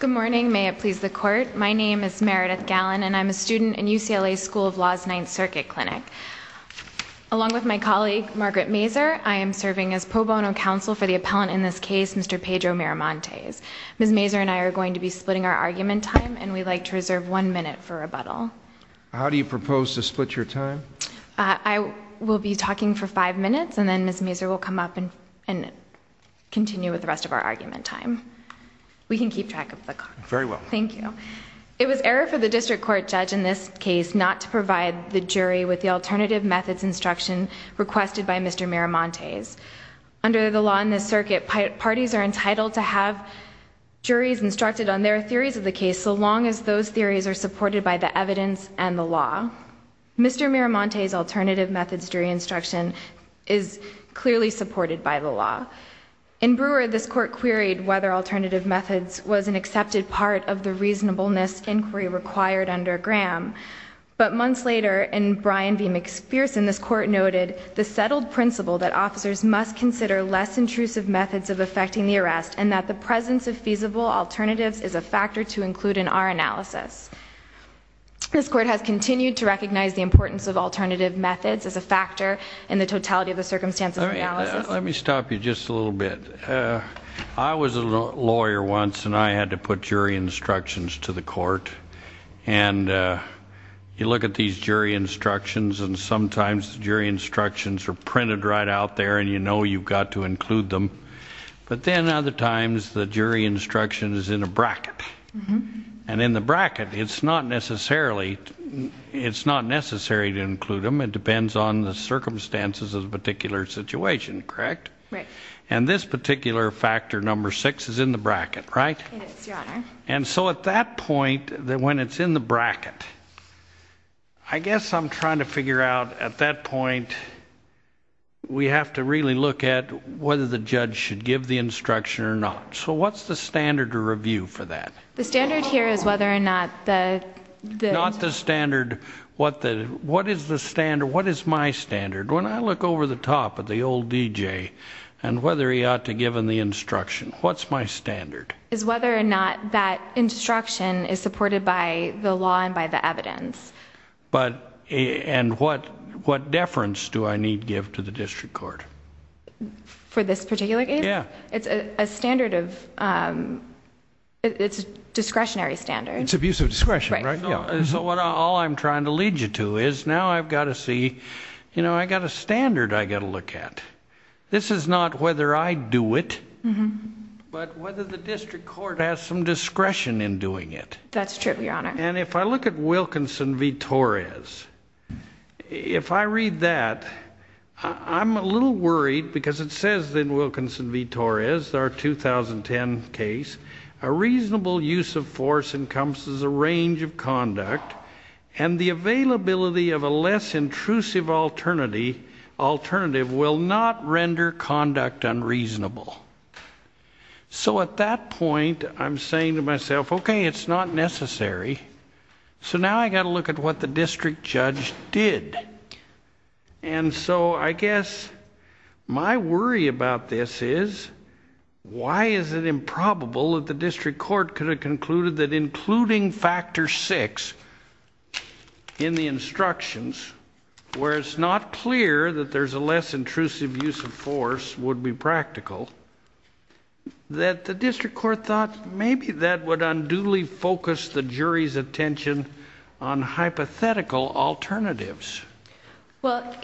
Good morning, may it please the court. My name is Meredith Gallen and I'm a student in UCLA's School of Law's Ninth Circuit Clinic. Along with my colleague Margaret Mazur, I am serving as pro bono counsel for the appellant in this case, Mr. Pedro Miramontes. Ms. Mazur and I are going to be splitting our argument time and we'd like to reserve one minute for rebuttal. How do you propose to split your time? I will be talking for five minutes and then Ms. Mazur will come up and continue with the rest of our argument time. We can keep track of the clock. Very well. Thank you. It was error for the district court judge in this case not to provide the jury with the alternative methods instruction requested by Mr. Miramontes. Under the law in this circuit, parties are entitled to have juries instructed on their theories of the case so long as those theories are supported by the evidence and the law. Mr. Miramontes' alternative methods jury instruction is clearly supported by the law. In Brewer, this court queried whether alternative methods was an accepted part of the reasonableness inquiry required under Graham. But months later, in Bryan v. McPherson, this court noted the settled principle that officers must consider less intrusive methods of effecting the arrest and that the presence of feasible alternatives is a factor to include in our analysis. This court has continued to recognize the importance of alternative methods as a factor in the totality of the circumstances analysis. Let me stop you just a little bit. I was a lawyer once, and I had to put jury instructions to the court. And you look at these jury instructions, and sometimes the jury instructions are printed right out there, and you know you've got to include them. But then other times, the jury instruction is in a bracket. And in the bracket, it's not necessarily to include them. It depends on the circumstances of the particular situation, correct? Right. And this particular factor, number six, is in the bracket, right? It is, Your Honor. And so at that point, when it's in the bracket, I guess I'm trying to figure out, at that point, we have to really look at whether the judge should give the instruction or not. So what's the standard to review for that? The standard here is whether or not the... What is my standard? When I look over the top at the old DJ and whether he ought to give him the instruction, what's my standard? It's whether or not that instruction is supported by the law and by the evidence. And what deference do I need to give to the district court? For this particular case? Yeah. It's a discretionary standard. It's abuse of discretion, right? So all I'm trying to lead you to is now I've got to see... I've got a standard I've got to look at. This is not whether I do it, but whether the district court has some discretion in doing it. That's true, Your Honor. And if I look at Wilkinson v. Torres, if I read that, I'm a little worried because it says in Wilkinson v. Torres, our 2010 case, a reasonable use of force encompasses a range of conduct and the availability of a less intrusive alternative will not render conduct unreasonable. So at that point, I'm saying to myself, okay, it's not necessary. So now I've got to look at what the district judge did. And so I guess my worry about this is why is it improbable that the district court could have concluded that including Factor VI in the instructions, where it's not clear that there's a less intrusive use of force would be practical, that the district court thought maybe that would unduly focus the jury's attention on hypothetical alternatives? Well,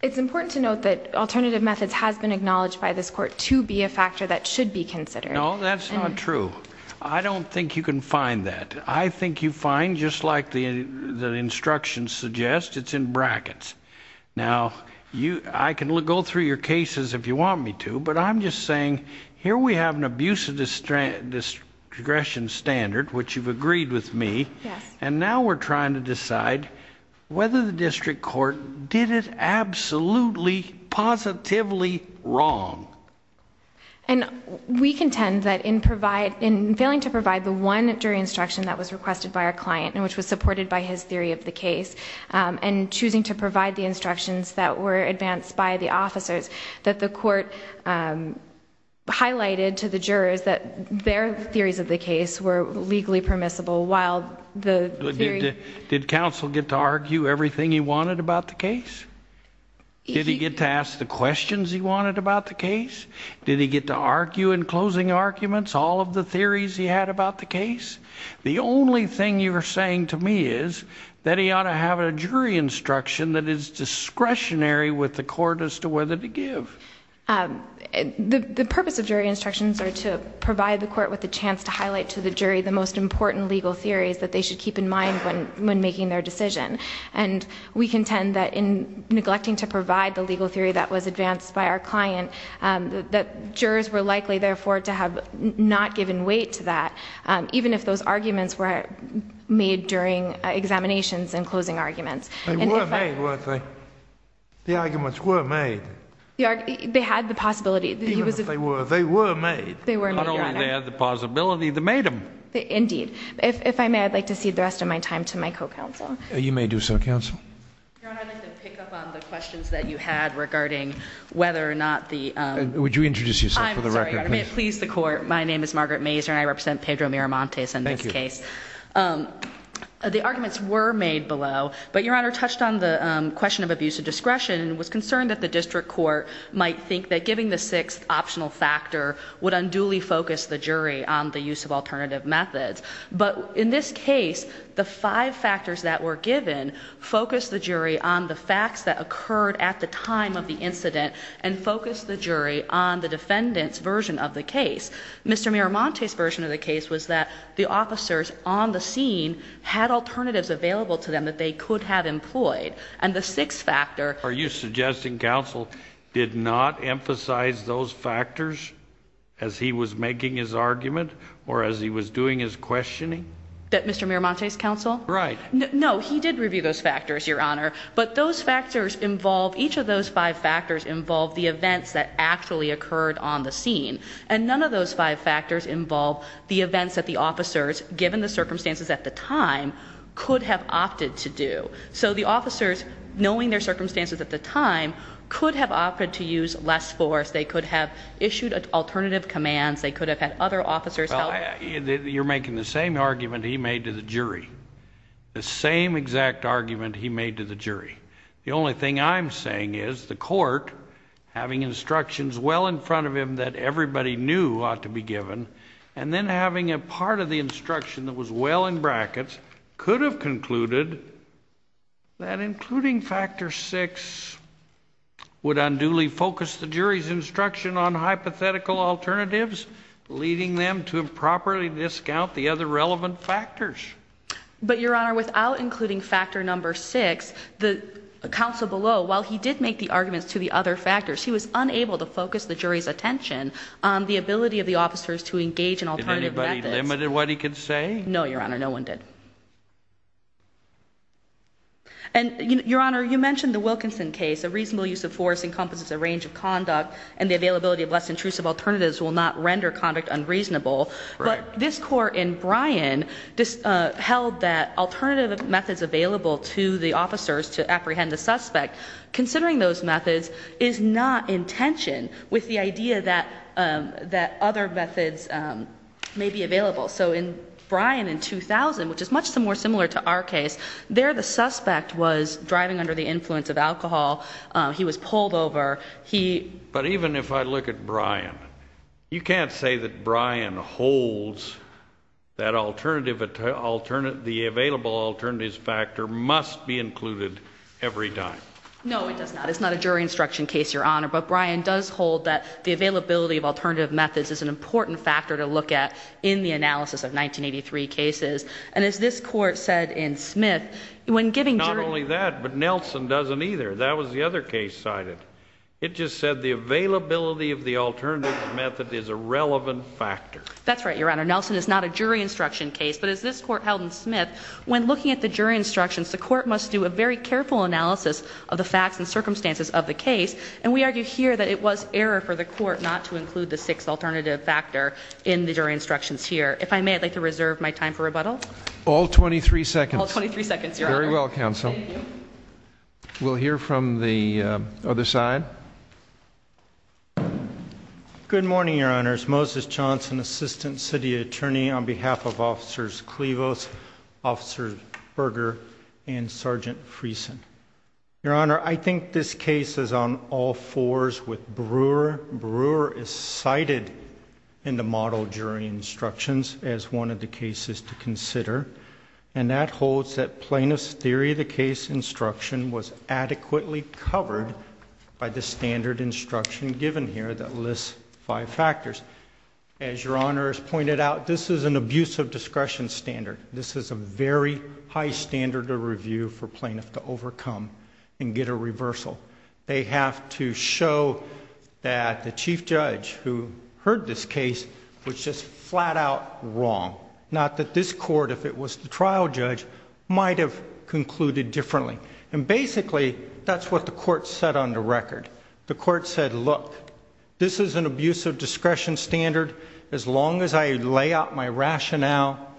it's important to note that alternative methods has been acknowledged by this court to be a factor that should be considered. No, that's not true. I don't think you can find that. I think you find, just like the instructions suggest, it's in brackets. Now, I can go through your cases if you want me to, but I'm just saying here we have an abuse of discretion standard, which you've agreed with me, and now we're trying to decide whether the district court did it absolutely, positively wrong. And we contend that in failing to provide the one jury instruction that was requested by our client, which was supported by his theory of the case, and choosing to provide the instructions that were advanced by the officers, that the court highlighted to the jurors that their theories of the case were legally permissible while the theory... Did counsel get to argue everything he wanted about the case? Did he get to ask the questions he wanted about the case? Did he get to argue in closing arguments all of the theories he had about the case? The only thing you're saying to me is that he ought to have a jury instruction that is discretionary with the court as to whether to give. The purpose of jury instructions are to provide the court with a chance to highlight to the jury the most important legal theories that they should keep in mind when making their decision. And we contend that in neglecting to provide the legal theory that was advanced by our client, that jurors were likely, therefore, to have not given weight to that, even if those arguments were made during examinations and closing arguments. They were made, weren't they? The arguments were made. They had the possibility. Even if they were, they were made. Not only they had the possibility, they made them. Indeed. If I may, I'd like to cede the rest of my time to my co-counsel. You may do so, counsel. Your Honor, I'd like to pick up on the questions that you had regarding whether or not the Would you introduce yourself for the record, please? I'm sorry, Your Honor. May it please the court. My name is Margaret Mazur, and I represent Pedro Miramontes in this case. Thank you. The arguments were made below, but Your Honor touched on the question of abuse of discretion and was concerned that the district court might think that giving the sixth optional factor would unduly focus the jury on the use of alternative methods. But in this case, the five factors that were given focused the jury on the facts that occurred at the time of the incident and focused the jury on the defendant's version of the case. Mr. Miramontes' version of the case was that the officers on the scene had alternatives available to them that they could have employed. And the sixth factor Are you suggesting counsel did not emphasize those factors as he was making his argument or as he was doing his questioning? That Mr. Miramontes counsel? Right. No, he did review those factors, Your Honor. But those factors involve, each of those five factors involve the events that actually occurred on the scene. And none of those five factors involve the events that the officers, given the circumstances at the time, could have opted to do. So the officers, knowing their circumstances at the time, could have opted to use less force. They could have issued alternative commands. They could have had other officers help. You're making the same argument he made to the jury. The same exact argument he made to the jury. The only thing I'm saying is the court, having instructions well in front of him that everybody knew ought to be given, and then having a part of the instruction that was well in brackets, could have concluded that including factor six would unduly focus the jury's instruction on hypothetical alternatives, leading them to improperly discount the other relevant factors. But, Your Honor, without including factor number six, the counsel below, while he did make the arguments to the other factors, he was unable to focus the jury's attention on the ability of the officers to engage in alternative methods. Did anybody limit what he could say? No, Your Honor, no one did. And, Your Honor, you mentioned the Wilkinson case. A reasonable use of force encompasses a range of conduct, and the availability of less intrusive alternatives will not render conduct unreasonable. But this court in Bryan held that alternative methods available to the officers to apprehend the suspect, considering those methods, is not in tension with the idea that other methods may be available. So in Bryan in 2000, which is much more similar to our case, there the suspect was driving under the influence of alcohol. He was pulled over. But even if I look at Bryan, you can't say that Bryan holds that the available alternatives factor must be included every time. No, it does not. It's not a jury instruction case, Your Honor. But Bryan does hold that the availability of alternative methods is an important factor to look at in the analysis of 1983 cases. And as this court said in Smith, when giving jury instructions... Not only that, but Nelson doesn't either. That was the other case cited. It just said the availability of the alternative method is a relevant factor. That's right, Your Honor. Nelson is not a jury instruction case. But as this court held in Smith, when looking at the jury instructions, the court must do a very careful analysis of the facts and circumstances of the case. And we argue here that it was error for the court not to include the sixth alternative factor in the jury instructions here. If I may, I'd like to reserve my time for rebuttal. All 23 seconds. All 23 seconds, Your Honor. Very well, counsel. Thank you. We'll hear from the other side. Good morning, Your Honors. Moses Johnson, Assistant City Attorney on behalf of Officers Clevos, Officers Berger, and Sergeant Friesen. Your Honor, I think this case is on all fours with Brewer. Brewer is cited in the model jury instructions as one of the cases to consider. And that holds that plaintiff's theory of the case instruction was adequately covered by the standard instruction given here that lists five factors. As Your Honor has pointed out, this is an abuse of discretion standard. This is a very high standard of review for plaintiff to overcome and get a reversal. They have to show that the chief judge who heard this case was just flat out wrong. Not that this court, if it was the trial judge, might have concluded differently. And basically, that's what the court said on the record. The court said, look, this is an abuse of discretion standard. As long as I lay out my rationale,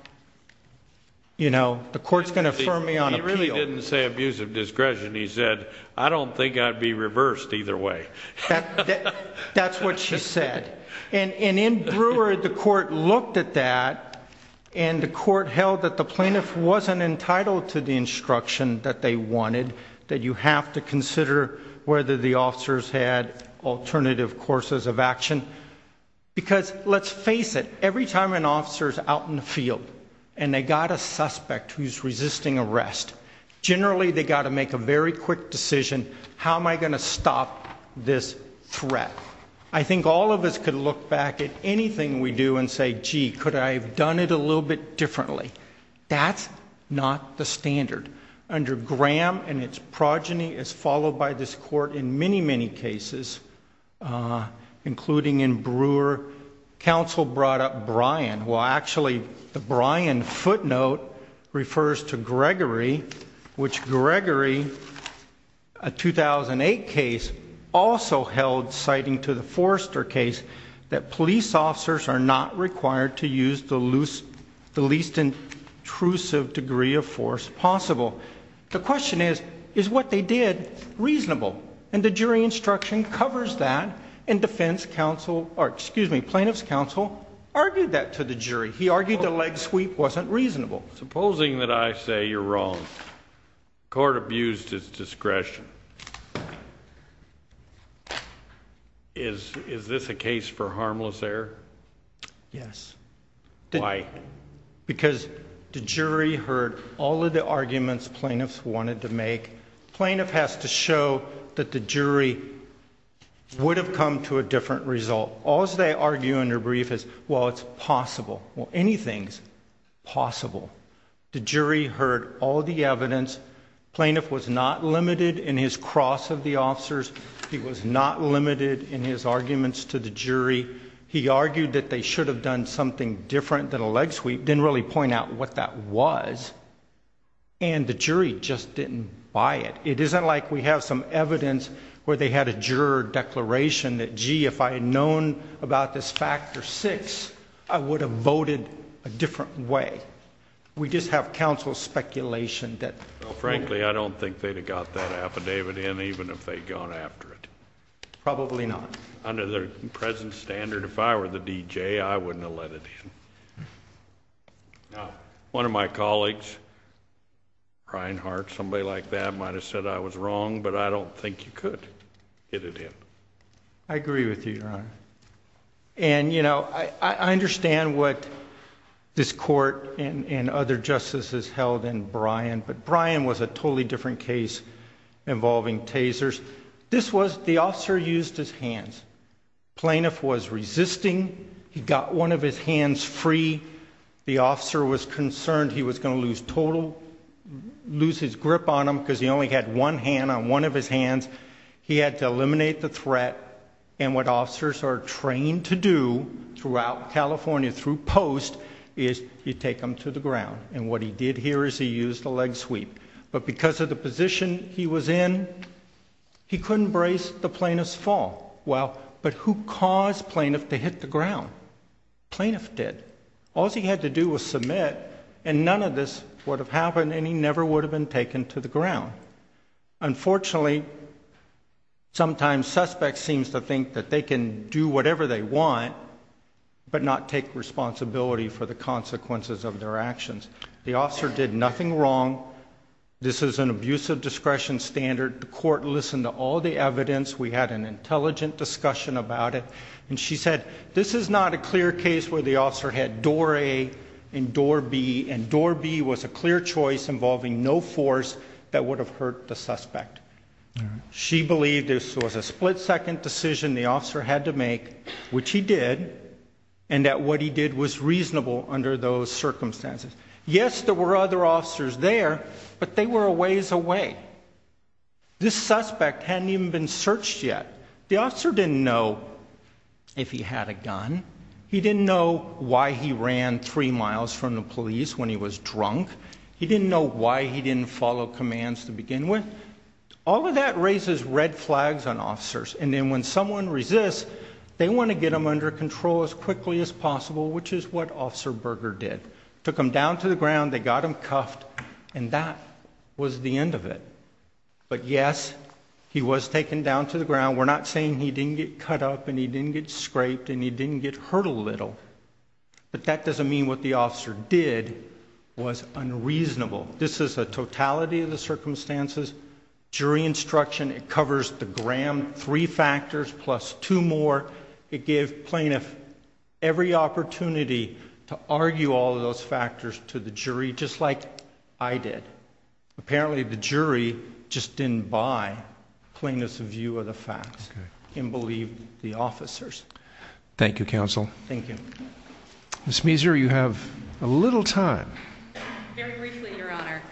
the court's going to affirm me on appeal. He really didn't say abuse of discretion. He said, I don't think I'd be reversed either way. That's what she said. And in Brewer, the court looked at that. And the court held that the plaintiff wasn't entitled to the instruction that they wanted, that you have to consider whether the officers had alternative courses of action. Because, let's face it, every time an officer's out in the field and they got a suspect who's resisting arrest, generally they got to make a very quick decision, how am I going to stop this threat? I think all of us could look back at anything we do and say, gee, could I have done it a little bit differently? That's not the standard. Under Graham and its progeny, as followed by this court in many, many cases, including in Brewer, counsel brought up Bryan. Well, actually, the Bryan footnote refers to Gregory, which Gregory, a 2008 case, also held, citing to the Forrester case, that police officers are not required to use the least intrusive degree of force possible. The question is, is what they did reasonable? And the jury instruction covers that. And defense counsel, or excuse me, plaintiff's counsel, argued that to the jury. He argued the leg sweep wasn't reasonable. Supposing that I say you're wrong, the court abused its discretion. Is this a case for harmless error? Yes. Why? Because the jury heard all of the arguments plaintiffs wanted to make. Plaintiff has to show that the jury would have come to a different result. All they argue in their brief is, well, it's possible. Well, anything's possible. The jury heard all the evidence. Plaintiff was not limited in his cross of the officers. He was not limited in his arguments to the jury. He argued that they should have done something different than a leg sweep. Didn't really point out what that was. And the jury just didn't buy it. It isn't like we have some evidence where they had a juror declaration that, gee, if I had known about this factor six, I would have voted a different way. We just have counsel speculation that... Well, frankly, I don't think they'd have got that affidavit in even if they'd gone after it. Probably not. Under the present standard, if I were the DJ, I wouldn't have let it in. One of my colleagues, Reinhart, somebody like that, might have said I was wrong, but I don't think you could hit it in. I agree with you, Your Honor. I understand what this court and other justices held in Bryan, but Bryan was a totally different case involving tasers. The officer used his hands. Plaintiff was resisting. He got one of his hands free. The officer was concerned he was going to lose his grip on him because he only had one hand on one of his hands. He had to eliminate the threat, and what officers are trained to do throughout California through post is you take them to the ground. And what he did here is he used a leg sweep. But because of the position he was in, he couldn't brace the plaintiff's fall. Well, but who caused plaintiff to hit the ground? Plaintiff did. All he had to do was submit, and none of this would have happened, and he never would have been taken to the ground. Unfortunately, sometimes suspects seem to think that they can do whatever they want but not take responsibility for the consequences of their actions. The officer did nothing wrong. This is an abusive discretion standard. The court listened to all the evidence. We had an intelligent discussion about it, and she said this is not a clear case where the officer had door A and door B, and door B was a clear choice involving no force that would have hurt the suspect. She believed this was a split-second decision the officer had to make, which he did, and that what he did was reasonable under those circumstances. Yes, there were other officers there, but they were a ways away. This suspect hadn't even been searched yet. The officer didn't know if he had a gun. He didn't know why he ran three miles from the police when he was drunk. He didn't know why he didn't follow commands to begin with. All of that raises red flags on officers, and then when someone resists, they want to get them under control as quickly as possible, which is what Officer Berger did. Took him down to the ground, they got him cuffed, and that was the end of it. But yes, he was taken down to the ground. Now, we're not saying he didn't get cut up and he didn't get scraped and he didn't get hurt a little, but that doesn't mean what the officer did was unreasonable. This is a totality of the circumstances. Jury instruction, it covers the gram, three factors plus two more. It gave plaintiffs every opportunity to argue all of those factors to the jury, just like I did. Apparently the jury just didn't buy plaintiffs' view of the facts and believed the officers. Thank you, Counsel. Thank you. Ms. Meeser, you have a little time. Very briefly, Your Honor.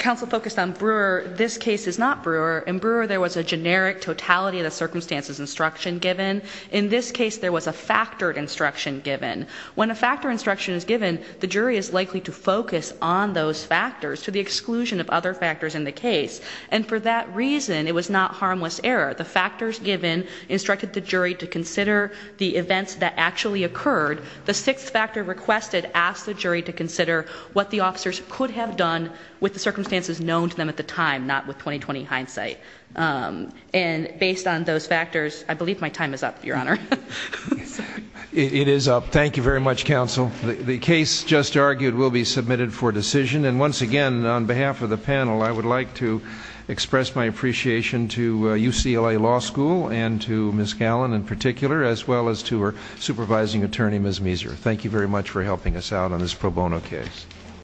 Counsel focused on Brewer. This case is not Brewer. In Brewer, there was a generic totality of the circumstances instruction given. In this case, there was a factored instruction given. When a factored instruction is given, the jury is likely to focus on those factors to the exclusion of other factors in the case. And for that reason, it was not harmless error. The factors given instructed the jury to consider the events that actually occurred. The sixth factor requested asked the jury to consider what the officers could have done with the circumstances known to them at the time, not with 20-20 hindsight. And based on those factors, I believe my time is up, Your Honor. It is up. Thank you very much, Counsel. The case just argued will be submitted for decision. And once again, on behalf of the panel, I would like to express my appreciation to UCLA Law School and to Ms. Gallin in particular, as well as to our supervising attorney, Ms. Meeser. Thank you very much for helping us out on this pro bono case.